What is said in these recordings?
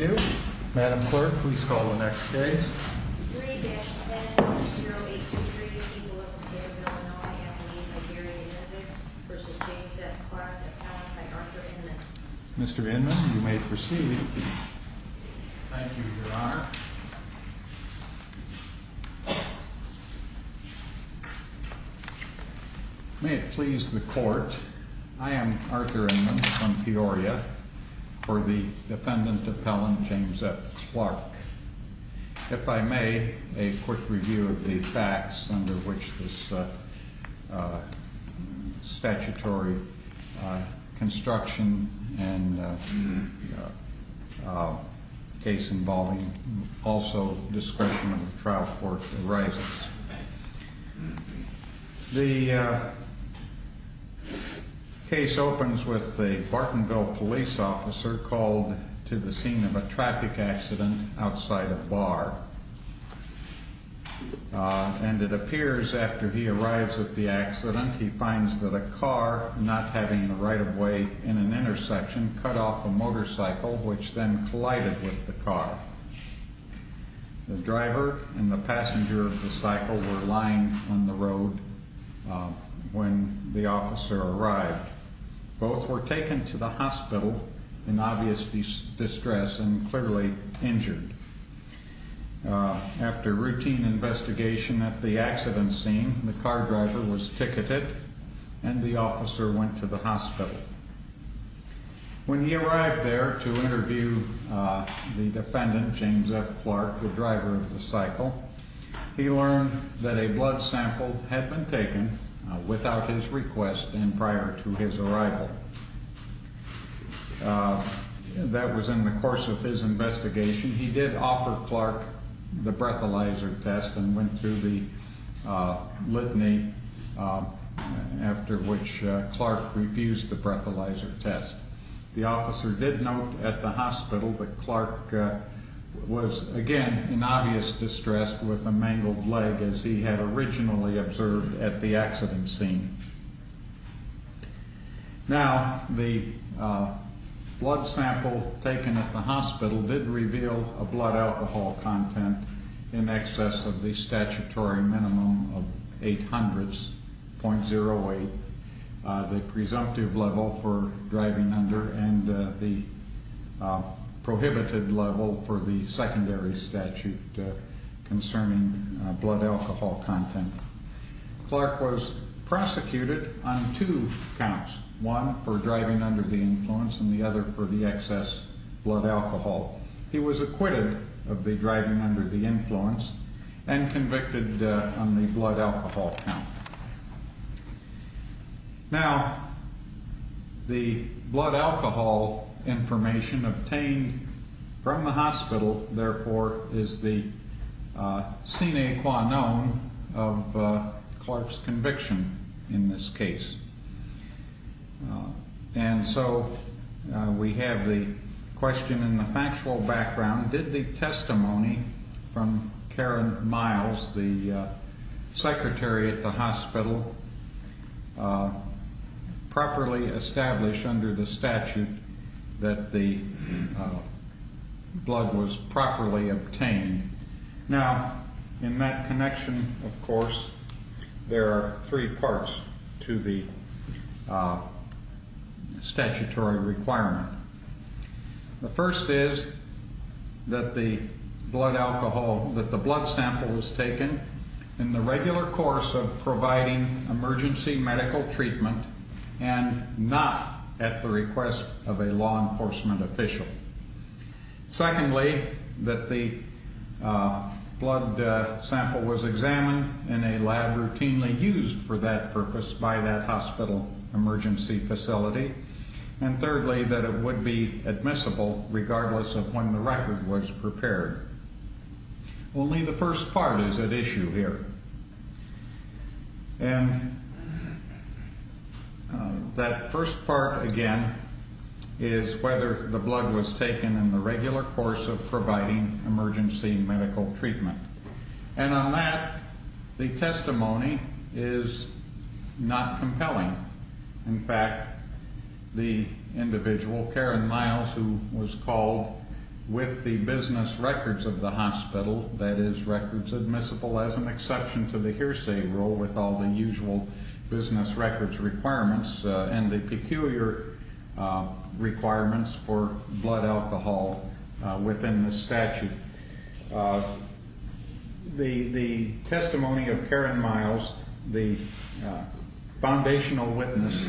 Mr. Inman, you may proceed. Thank you, Your Honor. May it please the Court, I am Arthur Inman from Peoria for the defendant appellant James F. Clark. If I may, a quick review of the facts under which this statutory construction and case involving also discretion of the trial court arises. The case opens with the Bartonville police officer called to the scene of a traffic accident outside a bar. And it appears after he arrives at the accident, he finds that a car not having the right of way in an intersection cut off a motorcycle which then collided with the car. The driver and the passenger of the cycle were lying on the road when the officer arrived. Both were taken to the hospital in obvious distress and clearly injured. After routine investigation at the accident scene, the car driver was ticketed and the officer went to the hospital. When he arrived there to interview the defendant, James F. Clark, the driver of the cycle, he learned that a blood sample had been taken without his request and prior to his arrival. That was in the course of his investigation. He did offer Clark the breathalyzer test and went through the litany after which Clark refused the breathalyzer test. The officer did note at the hospital that Clark was again in obvious distress with a mangled leg as he had originally observed at the accident scene. Now, the blood sample taken at the hospital did reveal a blood alcohol content in excess of the statutory minimum of 800.08. The presumptive level for driving under and the prohibited level for the secondary statute concerning blood alcohol content. Clark was prosecuted on two counts, one for driving under the influence and the other for the excess blood alcohol. He was acquitted of the driving under the influence and convicted on the blood alcohol count. Now, the blood alcohol information obtained from the hospital, therefore, is the sine qua non of Clark's conviction in this case. And so we have the question in the factual background. Did the testimony from Karen Miles, the secretary at the hospital, properly establish under the statute that the blood was properly obtained? Now, in that connection, of course, there are three parts to the statutory requirement. The first is that the blood alcohol, that the blood sample was taken in the regular course of providing emergency medical treatment and not at the request of a law enforcement official. Secondly, that the blood sample was examined in a lab routinely used for that purpose by that hospital emergency facility. And thirdly, that it would be admissible regardless of when the record was prepared. Only the first part is at issue here. And that first part, again, is whether the blood was taken in the regular course of providing emergency medical treatment. And on that, the testimony is not compelling. In fact, the individual, Karen Miles, who was called with the business records of the hospital, that is, records admissible as an exception to the hearsay rule with all the usual business records requirements, and the peculiar requirements for blood alcohol within the statute. The testimony of Karen Miles, the foundational witness,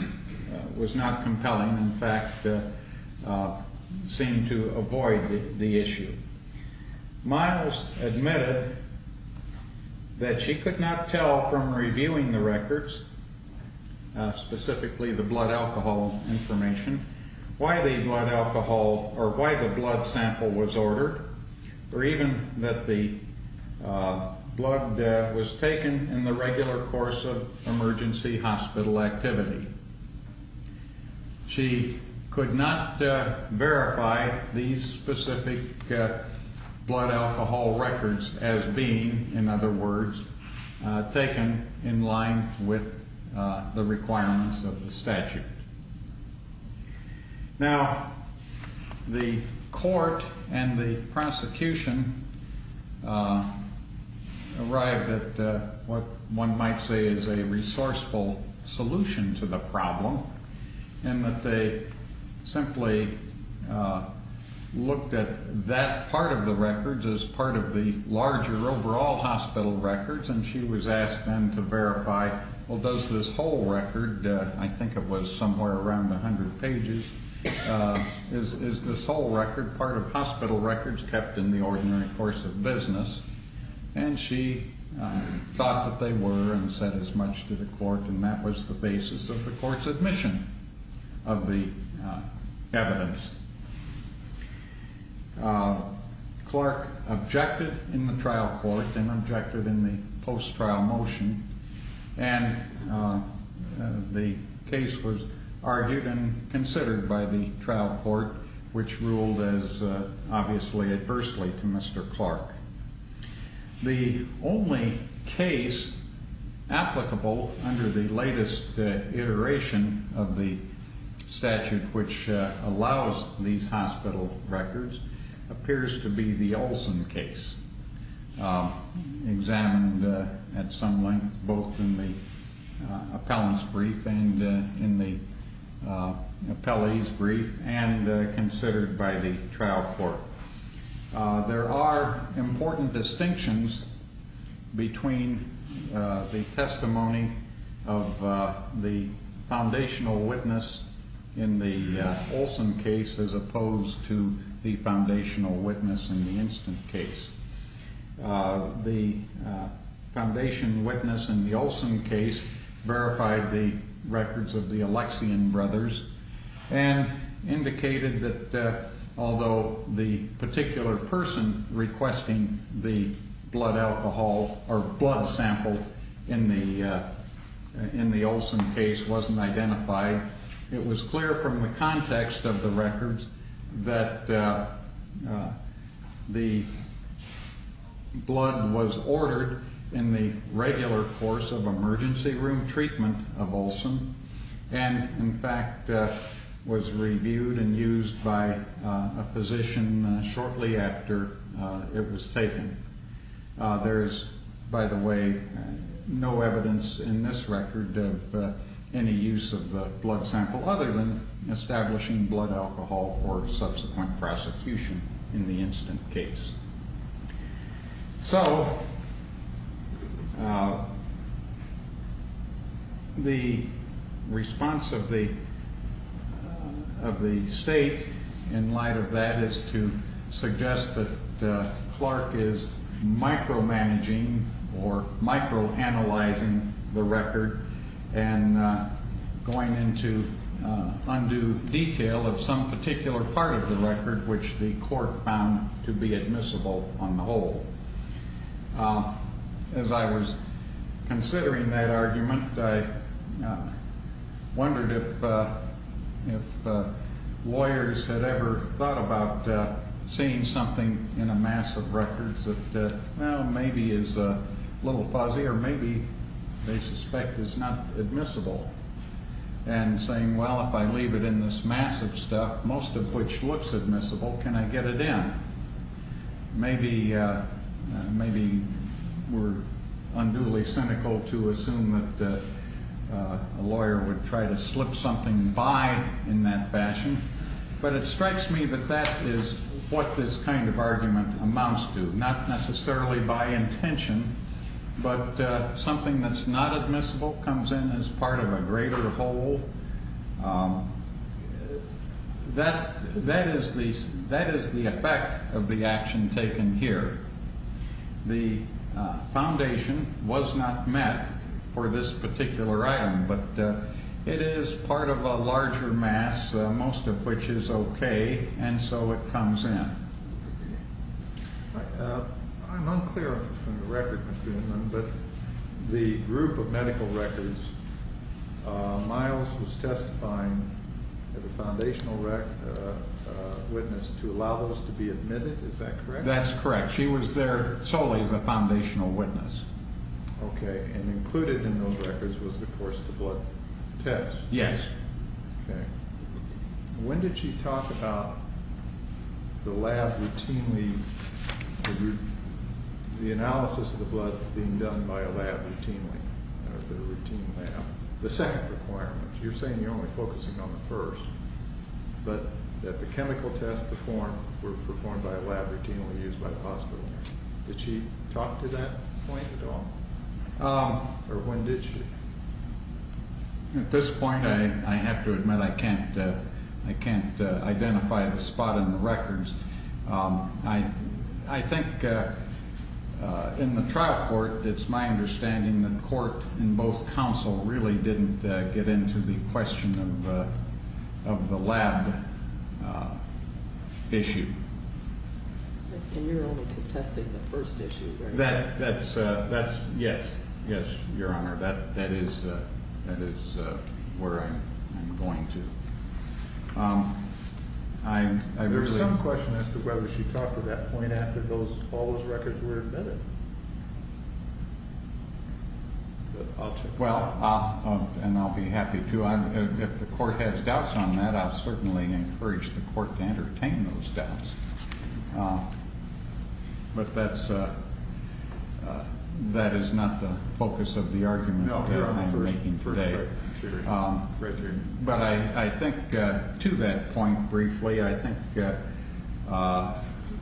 was not compelling. In fact, seemed to avoid the issue. Miles admitted that she could not tell from reviewing the records, specifically the blood alcohol information, why the blood sample was ordered or even that the blood was taken in the regular course of emergency hospital activity. She could not verify these specific blood alcohol records as being, in other words, taken in line with the requirements of the statute. Now, the court and the prosecution arrived at what one might say is a resourceful solution to the problem, in that they simply looked at that part of the records as part of the larger overall hospital records, and she was asked then to verify, well, does this whole record, I think it was somewhere around 100 pages, is this whole record part of hospital records kept in the ordinary course of business? And she thought that they were and said as much to the court, and that was the basis of the court's admission of the evidence. Clark objected in the trial court and objected in the post-trial motion, and the case was argued and considered by the trial court, which ruled as obviously adversely to Mr. Clark. The only case applicable under the latest iteration of the statute which allows these hospital records appears to be the Olson case, examined at some length both in the appellant's brief and in the appellee's brief and considered by the trial court. There are important distinctions between the testimony of the foundational witness in the Olson case as opposed to the foundational witness in the instant case. The foundation witness in the Olson case verified the records of the Alexian brothers and indicated that although the particular person requesting the blood alcohol or blood sample in the Olson case wasn't identified, it was clear from the context of the records that the blood was ordered in the regular course of emergency room treatment of Olson, and in fact was reviewed and used by a physician shortly after it was taken. There is, by the way, no evidence in this record of any use of the blood sample other than establishing blood alcohol or subsequent prosecution in the instant case. So the response of the state in light of that is to suggest that Clark is micromanaging or microanalyzing the record and going into undue detail of some particular part of the record which the court found to be admissible on the whole. As I was considering that argument, I wondered if lawyers had ever thought about seeing something in a mass of records that maybe is a little fuzzy or maybe they suspect is not admissible, and saying, well, if I leave it in this mass of stuff, most of which looks admissible, can I get it in? Maybe we're unduly cynical to assume that a lawyer would try to slip something by in that fashion, but it strikes me that that is what this kind of argument amounts to, not necessarily by intention, but something that's not admissible comes in as part of a greater whole. That is the effect of the action taken here. The foundation was not met for this particular item, but it is part of a larger mass, most of which is okay, and so it comes in. I'm unclear on the record, Mr. Hinman, but the group of medical records, Miles was testifying as a foundational witness to allow those to be admitted, is that correct? That's correct. She was there solely as a foundational witness. Okay, and included in those records was, of course, the blood test. Yes. Okay. When did she talk about the lab routinely, the analysis of the blood being done by a lab routinely, or the routine lab, the second requirement? You're saying you're only focusing on the first, but that the chemical tests performed were performed by a lab routinely used by the hospital. Did she talk to that point at all, or when did she? At this point, I have to admit I can't identify the spot in the records. I think in the trial court, it's my understanding that court in both counsel really didn't get into the question of the lab issue. And you're only contesting the first issue, right? Yes, Your Honor, that is where I'm going to. There's some question as to whether she talked to that point after all those records were admitted. Well, and I'll be happy to. If the court has doubts on that, I'll certainly encourage the court to entertain those doubts. But that is not the focus of the argument that I'm making today. But I think to that point briefly, I think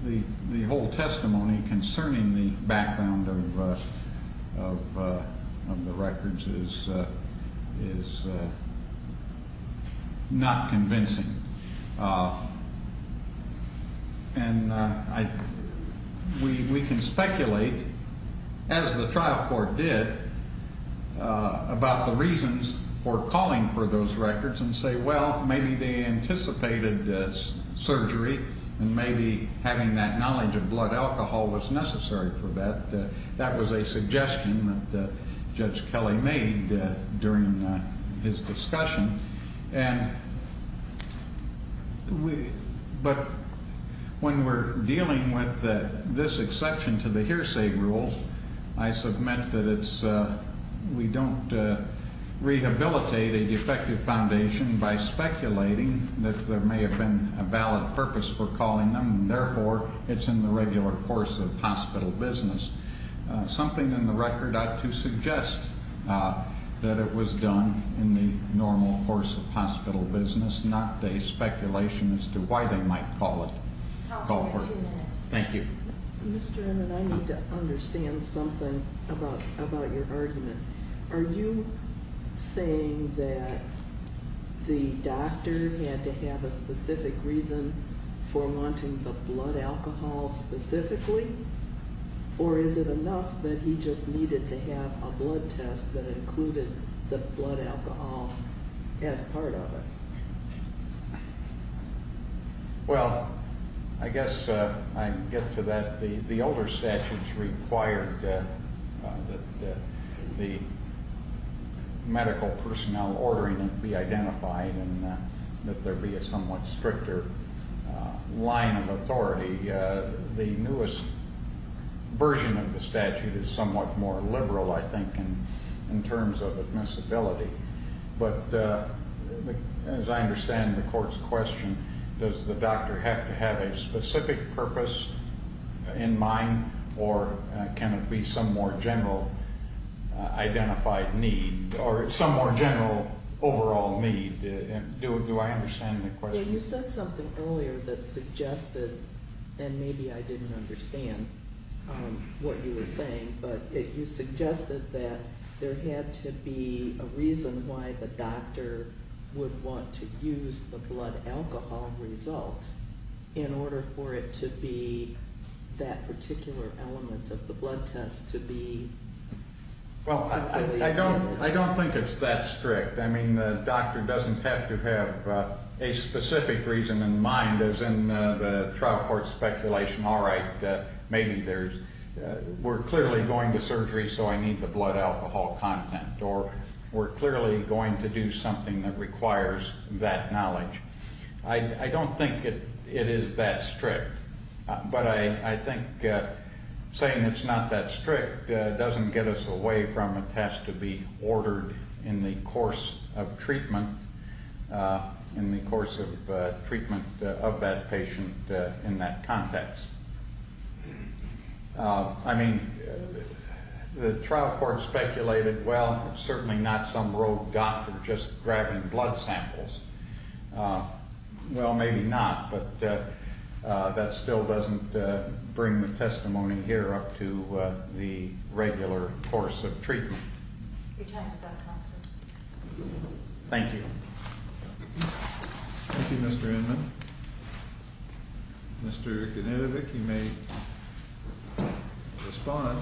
the whole testimony concerning the background of the records is not convincing. And we can speculate, as the trial court did, about the reasons for calling for those records and say, well, maybe they anticipated surgery, and maybe having that knowledge of blood alcohol was necessary for that. That was a suggestion that Judge Kelly made during his discussion. But when we're dealing with this exception to the hearsay rules, I submit that we don't rehabilitate a defective foundation by speculating that there may have been a valid purpose for calling them, and therefore, it's in the regular course of hospital business. Something in the record ought to suggest that it was done in the normal course of hospital business, not a speculation as to why they might call for it. Thank you. Mr. Emmett, I need to understand something about your argument. Are you saying that the doctor had to have a specific reason for wanting the blood alcohol specifically, or is it enough that he just needed to have a blood test that included the blood alcohol as part of it? Well, I guess I can get to that. The older statutes required that the medical personnel ordering it be identified and that there be a somewhat stricter line of authority. The newest version of the statute is somewhat more liberal, I think, in terms of admissibility. But as I understand the court's question, does the doctor have to have a specific purpose in mind, or can it be some more general identified need or some more general overall need? Do I understand the question? You said something earlier that suggested, and maybe I didn't understand what you were saying, but you suggested that there had to be a reason why the doctor would want to use the blood alcohol result in order for it to be that particular element of the blood test to be included. Well, I don't think it's that strict. I mean, the doctor doesn't have to have a specific reason in mind, as in the trial court speculation. All right, maybe we're clearly going to surgery, so I need the blood alcohol content, or we're clearly going to do something that requires that knowledge. I don't think it is that strict. But I think saying it's not that strict doesn't get us away from a test to be ordered in the course of treatment, in the course of treatment of that patient in that context. I mean, the trial court speculated, well, certainly not some rogue doctor just grabbing blood samples. Well, maybe not, but that still doesn't bring the testimony here up to the regular course of treatment. Your time is up, Counselor. Thank you. Thank you, Mr. Inman. Mr. Genetovic, you may respond.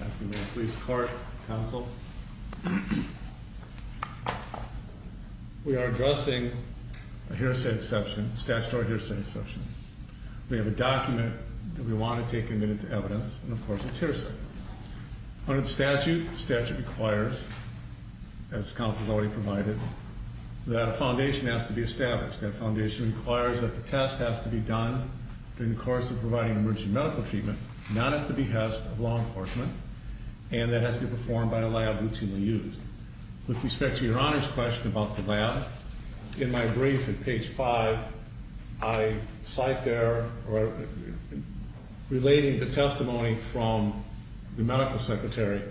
After you've been at police court, counsel. We are addressing a hearsay exception, statutory hearsay exception. We have a document that we want to take a minute to evidence, and of course it's hearsay. Under the statute, the statute requires, as counsel has already provided, that a foundation has to be established. That foundation requires that the test has to be done in the course of providing emergency medical treatment, not at the behest of law enforcement, and that it has to be performed by a lab routinely used. With respect to Your Honor's question about the lab, in my brief at page 5, I cite there, relating the testimony from the medical secretary,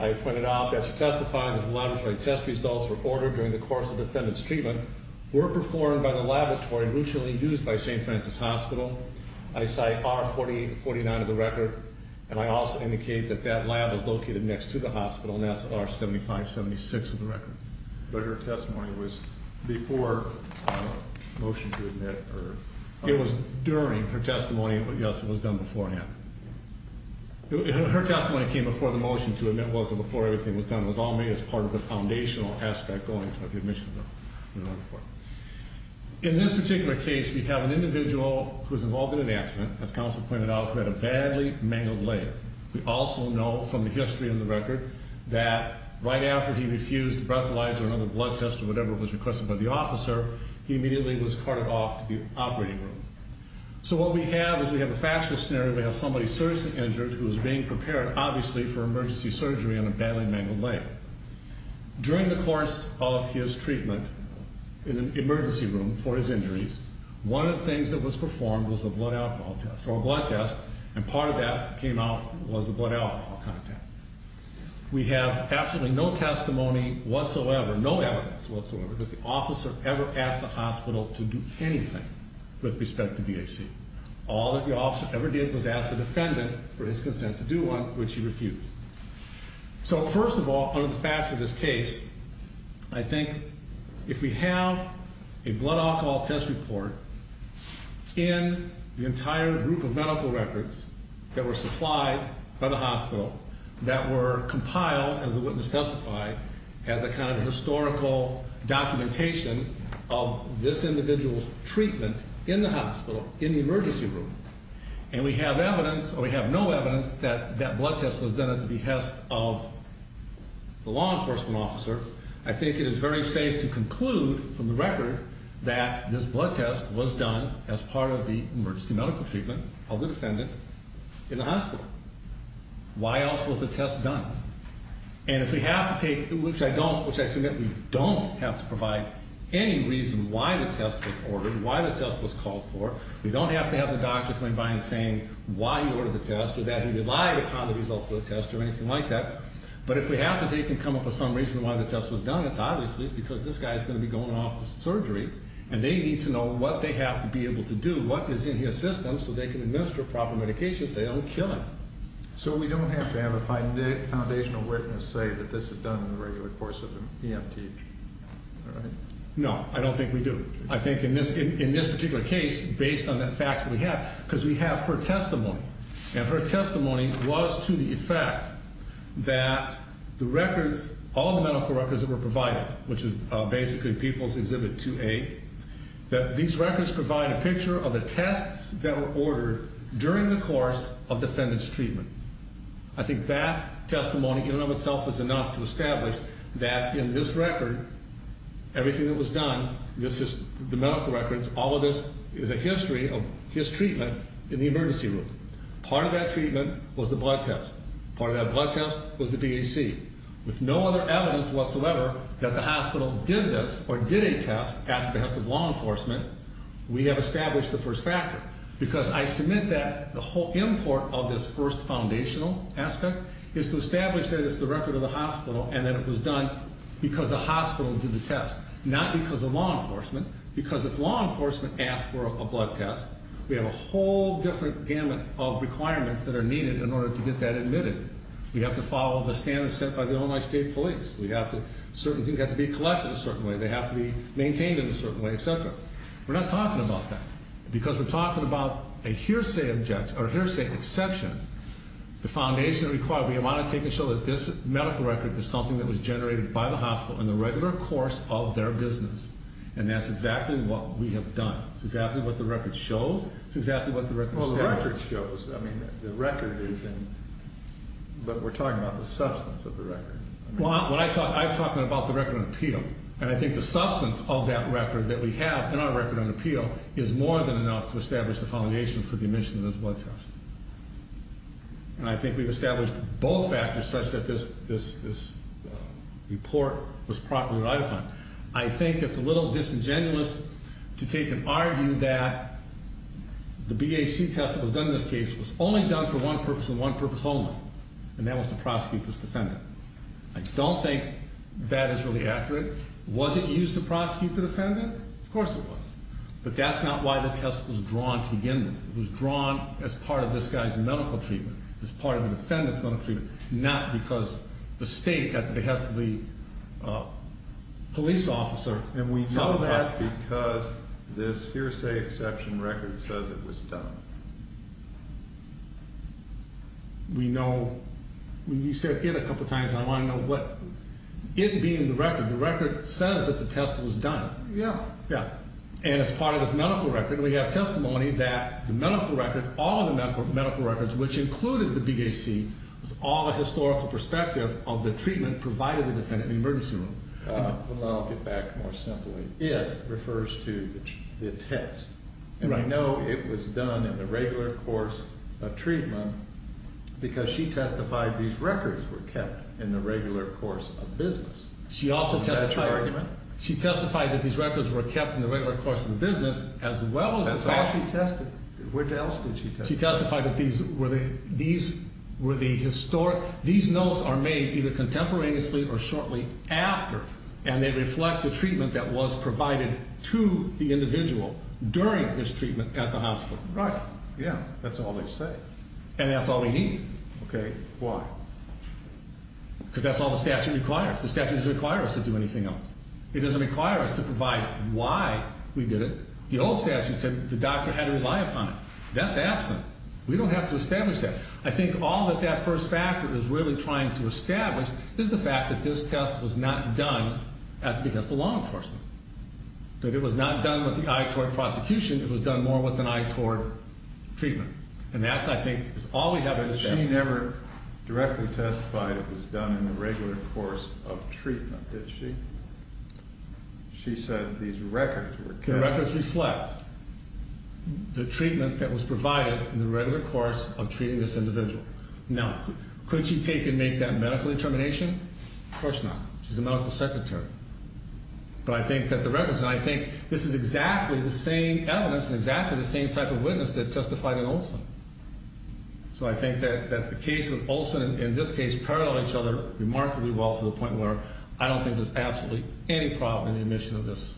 I pointed out that she testified that laboratory test results were ordered during the course of defendant's treatment, were performed by the laboratory routinely used by St. Francis Hospital. I cite R-4049 of the record, and I also indicate that that lab is located next to the hospital, and that's R-7576 of the record. But her testimony was before a motion to admit, or? It was during her testimony. Yes, it was done beforehand. Her testimony came before the motion to admit was, and before everything was done. It was all made as part of the foundational aspect of the admission of the medical report. In this particular case, we have an individual who was involved in an accident, as counsel pointed out, who had a badly mangled leg. We also know from the history in the record that right after he refused a breathalyzer or another blood test or whatever was requested by the officer, he immediately was carted off to the operating room. So what we have is we have a fascist scenario. We have somebody seriously injured who is being prepared, obviously, for emergency surgery on a badly mangled leg. During the course of his treatment in an emergency room for his injuries, one of the things that was performed was a blood alcohol test, or a blood test, and part of that that came out was the blood alcohol content. We have absolutely no testimony whatsoever, no evidence whatsoever, that the officer ever asked the hospital to do anything with respect to BAC. All that the officer ever did was ask the defendant for his consent to do one, which he refused. So first of all, under the facts of this case, I think if we have a blood alcohol test report in the entire group of medical records that were supplied by the hospital that were compiled, as the witness testified, as a kind of historical documentation of this individual's treatment in the hospital, in the emergency room, and we have evidence, or we have no evidence, that that blood test was done at the behest of the law enforcement officer, I think it is very safe to conclude from the record that this blood test was done as part of the emergency medical treatment of the defendant in the hospital. Why else was the test done? And if we have to take, which I don't, which I submit we don't have to provide any reason why the test was ordered, why the test was called for. We don't have to have the doctor coming by and saying why he ordered the test or that he relied upon the results of the test or anything like that. But if we have to take and come up with some reason why the test was done, it's obviously because this guy is going to be going off to surgery and they need to know what they have to be able to do, what is in his system, so they can administer proper medications so they don't kill him. So we don't have to have a foundational witness say that this is done in the regular course of an EMT? No, I don't think we do. I think in this particular case, based on the facts that we have, because we have her testimony, and her testimony was to the effect that the records, all the medical records that were provided, which is basically People's Exhibit 2A, that these records provide a picture of the tests that were ordered during the course of defendant's treatment. I think that testimony in and of itself is enough to establish that in this record, everything that was done, this is the medical records, all of this is a history of his treatment in the emergency room. Part of that treatment was the blood test. Part of that blood test was the BAC. With no other evidence whatsoever that the hospital did this or did a test at the behest of law enforcement, we have established the first factor. Because I submit that the whole import of this first foundational aspect is to establish that it's the record of the hospital and that it was done because the hospital did the test, not because of law enforcement. Because if law enforcement asks for a blood test, we have a whole different gamut of requirements that are needed in order to get that admitted. We have to follow the standards set by the Illinois State Police. Certain things have to be collected a certain way. They have to be maintained in a certain way, et cetera. We're not talking about that. Because we're talking about a hearsay exception, the foundation required. We want to take a show that this medical record is something that was generated by the hospital in the regular course of their business. And that's exactly what we have done. It's exactly what the record shows. It's exactly what the record establishes. Well, the record shows. I mean, the record is in. But we're talking about the substance of the record. Well, I'm talking about the record on appeal. And I think the substance of that record that we have in our record on appeal is more than enough to establish the foundation for the admission of this blood test. And I think we've established both factors such that this report was properly relied upon. I think it's a little disingenuous to take and argue that the BAC test that was done in this case was only done for one purpose and one purpose only, and that was to prosecute this defendant. I don't think that is really accurate. Was it used to prosecute the defendant? Of course it was. But that's not why the test was drawn to begin with. It was drawn as part of this guy's medical treatment, as part of the defendant's medical treatment, not because the state, at the behest of the police officer, saw that. And we know that because this hearsay exception record says it was done. We know. You said it a couple times, and I want to know what. It being the record, the record says that the test was done. Yeah. And as part of this medical record, we have testimony that the medical record, all of the medical records, which included the BAC, was all the historical perspective of the treatment provided to the defendant in the emergency room. I'll get back more simply. It refers to the test. And I know it was done in the regular course of treatment because she testified these records were kept in the regular course of business. Was that her argument? She testified that these records were kept in the regular course of business as well as the BAC. That's all she tested? Where else did she test? She testified that these were the historic, these notes are made either contemporaneously or shortly after, and they reflect the treatment that was provided to the individual during his treatment at the hospital. Right. Yeah. That's all they say. And that's all we need. Okay. Why? Because that's all the statute requires. The statute doesn't require us to do anything else. It doesn't require us to provide why we did it. The old statute said the doctor had to rely upon it. That's absent. We don't have to establish that. I think all that that first factor is really trying to establish is the fact that this test was not done because of the law enforcement, that it was not done with the eye toward prosecution. It was done more with an eye toward treatment. And that, I think, is all we have to establish. She never directly testified it was done in the regular course of treatment, did she? She said these records were kept. The records reflect the treatment that was provided in the regular course of treating this individual. Now, could she take and make that medical determination? Of course not. She's a medical secretary. But I think that the records, and I think this is exactly the same evidence and exactly the same type of witness that testified in Oldsville. So I think that the case of Olson, in this case, paralleled each other remarkably well to the point where I don't think there's absolutely any problem in the admission of this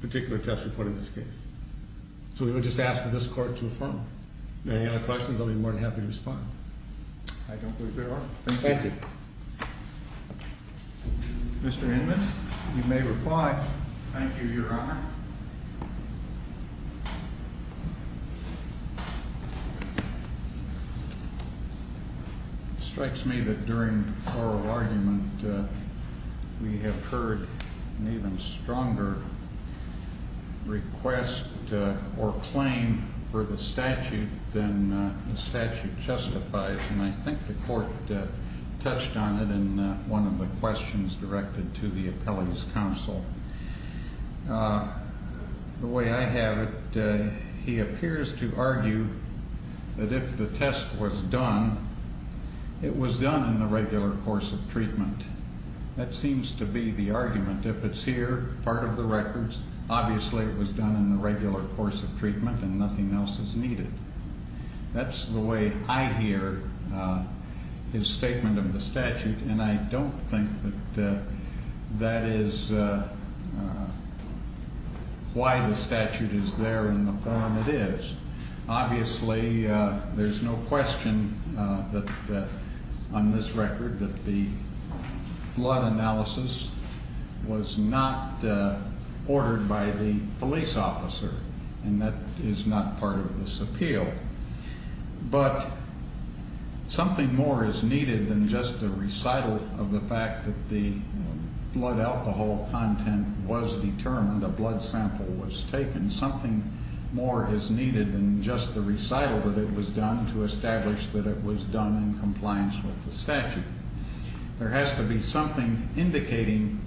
particular test report in this case. So we would just ask for this court to affirm. Any other questions? I'll be more than happy to respond. I don't believe there are. Thank you. Thank you. Mr. Inman, you may reply. Thank you, Your Honor. It strikes me that during oral argument we have heard an even stronger request or claim for the statute than the statute justifies, and I think the court touched on it in one of the questions directed to the appellee's counsel. The way I have it, he appears to argue that if the test was done, it was done in the regular course of treatment. That seems to be the argument. If it's here, part of the records, obviously it was done in the regular course of treatment and nothing else is needed. That's the way I hear his statement of the statute, and I don't think that that is why the statute is there in the form it is. Obviously, there's no question on this record that the blood analysis was not ordered by the police officer, and that is not part of this appeal. But something more is needed than just a recital of the fact that the blood alcohol content was determined, a blood sample was taken. Something more is needed than just the recital that it was done to establish that it was done in compliance with the statute. There has to be something indicating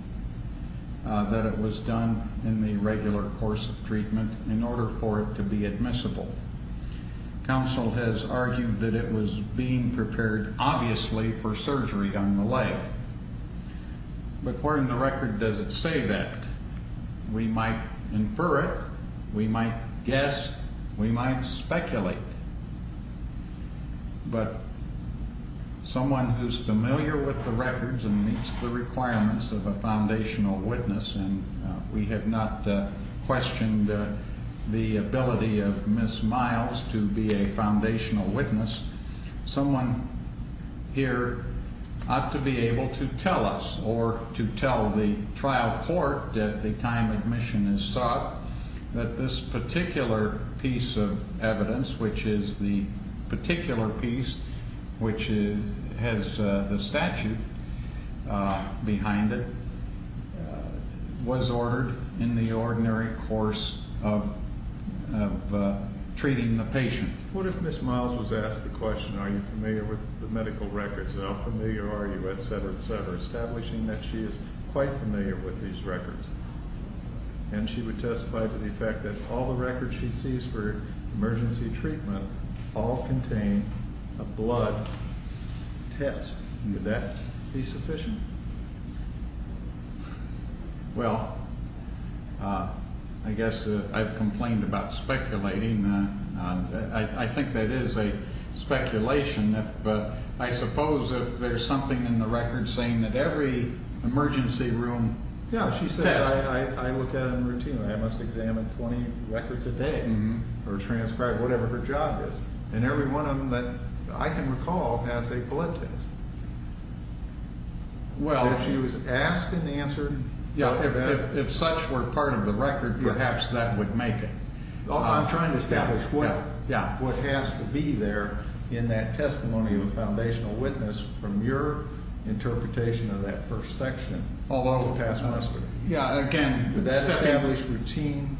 that it was done in the regular course of treatment in order for it to be admissible. Counsel has argued that it was being prepared, obviously, for surgery on the leg. But where in the record does it say that? We might infer it. We might guess. We might speculate. But someone who's familiar with the records and meets the requirements of a foundational witness, and we have not questioned the ability of Ms. Miles to be a foundational witness, someone here ought to be able to tell us or to tell the trial court at the time admission is sought that this particular piece of evidence, which is the particular piece which has the statute behind it, was ordered in the ordinary course of treating the patient. What if Ms. Miles was asked the question, are you familiar with the medical records? How familiar are you, et cetera, et cetera, establishing that she is quite familiar with these records? And she would testify to the fact that all the records she sees for emergency treatment all contain a blood test. Would that be sufficient? Well, I guess I've complained about speculating. I think that is a speculation. But I suppose if there's something in the record saying that every emergency room test. Yeah, she says I look at it routinely. I must examine 20 records a day or transcribe whatever her job is. And every one of them that I can recall has a blood test. Well. If she was asked and answered. Yeah, if such were part of the record, perhaps that would make it. I'm trying to establish what has to be there in that testimony of a foundational witness from your interpretation of that first section. Although it would pass muster. Yeah, again. Would that establish routine?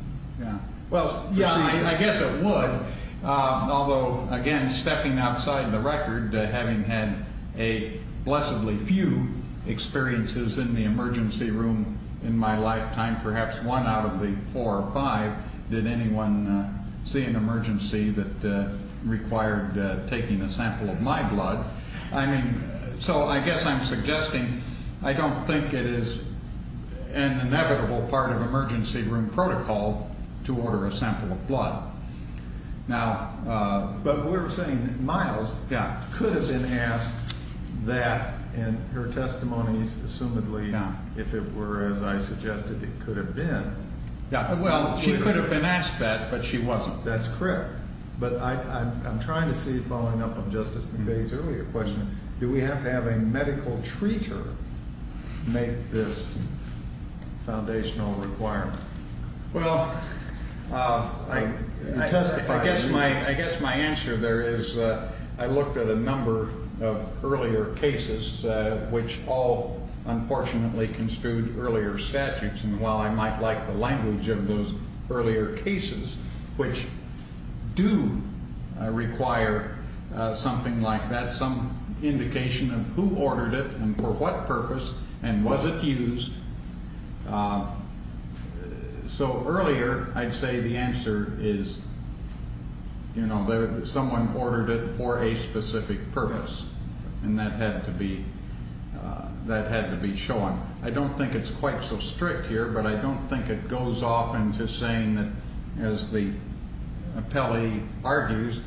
Well, yeah, I guess it would. Although, again, stepping outside the record, having had a blessedly few experiences in the emergency room in my lifetime, perhaps one out of the four or five, did anyone see an emergency that required taking a sample of my blood? I mean, so I guess I'm suggesting I don't think it is an inevitable part of emergency room protocol to order a sample of blood. Now. But we're saying Miles. Yeah. Could have been asked that in her testimonies. Assumedly. Yeah. If it were, as I suggested, it could have been. Yeah. Well, she could have been asked that, but she wasn't. That's correct. But I'm trying to see, following up on Justice McVeigh's earlier question, do we have to have a medical treater make this foundational requirement? Well, I guess my answer there is I looked at a number of earlier cases, which all unfortunately construed earlier statutes. And while I might like the language of those earlier cases, which do require something like that, some indication of who ordered it and for what purpose and was it used. So earlier, I'd say the answer is, you know, someone ordered it for a specific purpose and that had to be that had to be shown. I don't think it's quite so strict here, but I don't think it goes off into saying that as the appellee argues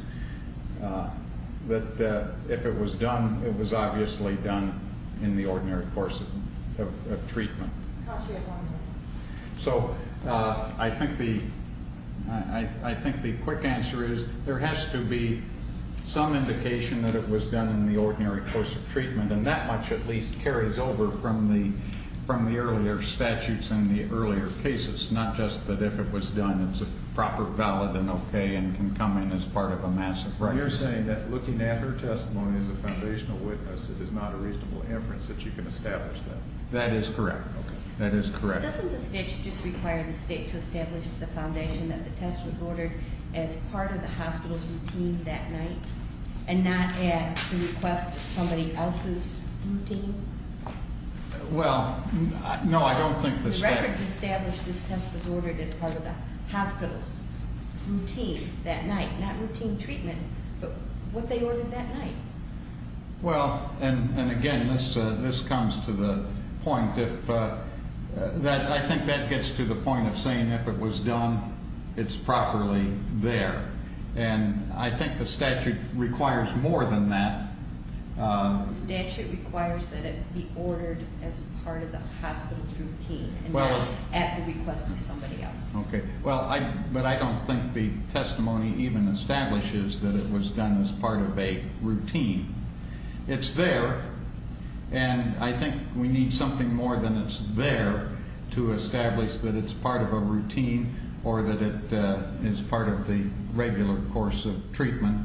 that if it was done, it was obviously done in the ordinary course of treatment. So I think the I think the quick answer is there has to be some indication that it was done in the ordinary course of treatment. And that much at least carries over from the from the earlier statutes and the earlier cases, not just that if it was done, it's a proper, valid and OK and can come in as part of a massive record. You're saying that looking at her testimony as a foundational witness, it is not a reasonable inference that you can establish that. That is correct. That is correct. Doesn't the state just require the state to establish the foundation that the test was ordered as part of the hospital's routine that night and not at the request of somebody else's routine? Well, no, I don't think the records established this test was ordered as part of the hospital's routine that night, not routine treatment, but what they ordered that night. Well, and again, this this comes to the point that I think that gets to the point of saying if it was done, it's properly there. And I think the statute requires more than that. Statute requires that it be ordered as part of the hospital's routine. Well, at the request of somebody else. OK, well, I but I don't think the testimony even establishes that it was done as part of a routine. It's there. And I think we need something more than it's there to establish that it's part of a routine or that it is part of the regular course of treatment.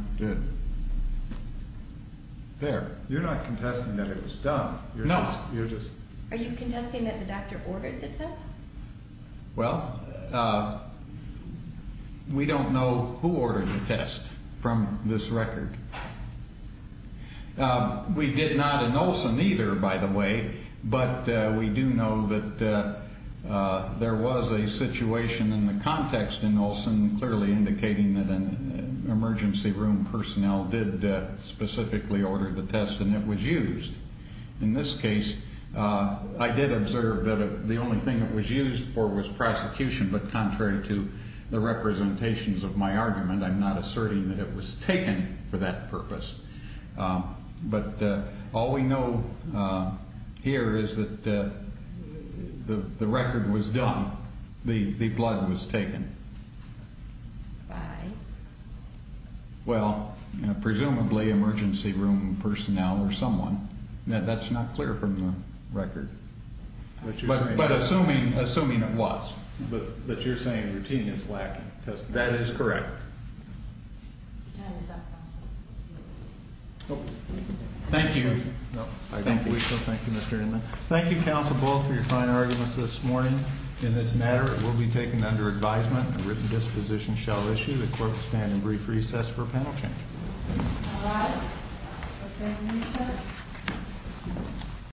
There you're not contesting that it was done. No. You're just are you contesting that the doctor ordered the test? Well, we don't know who ordered the test from this record. We did not in Olson either, by the way, but we do know that there was a situation in the context in Olson, clearly indicating that an emergency room personnel did specifically order the test and it was used. In this case, I did observe that the only thing that was used for was prosecution. But contrary to the representations of my argument, I'm not asserting that it was taken for that purpose. But all we know here is that the record was done. The blood was taken. By? Well, presumably emergency room personnel or someone. That's not clear from the record. But assuming assuming it was. But you're saying routine is lacking. That is correct. Thank you. Thank you, Mr. Inman. Thank you, Council Bull for your fine arguments this morning. In this matter, it will be taken under advisement. A written disposition shall issue. The clerk will stand in brief recess for panel change.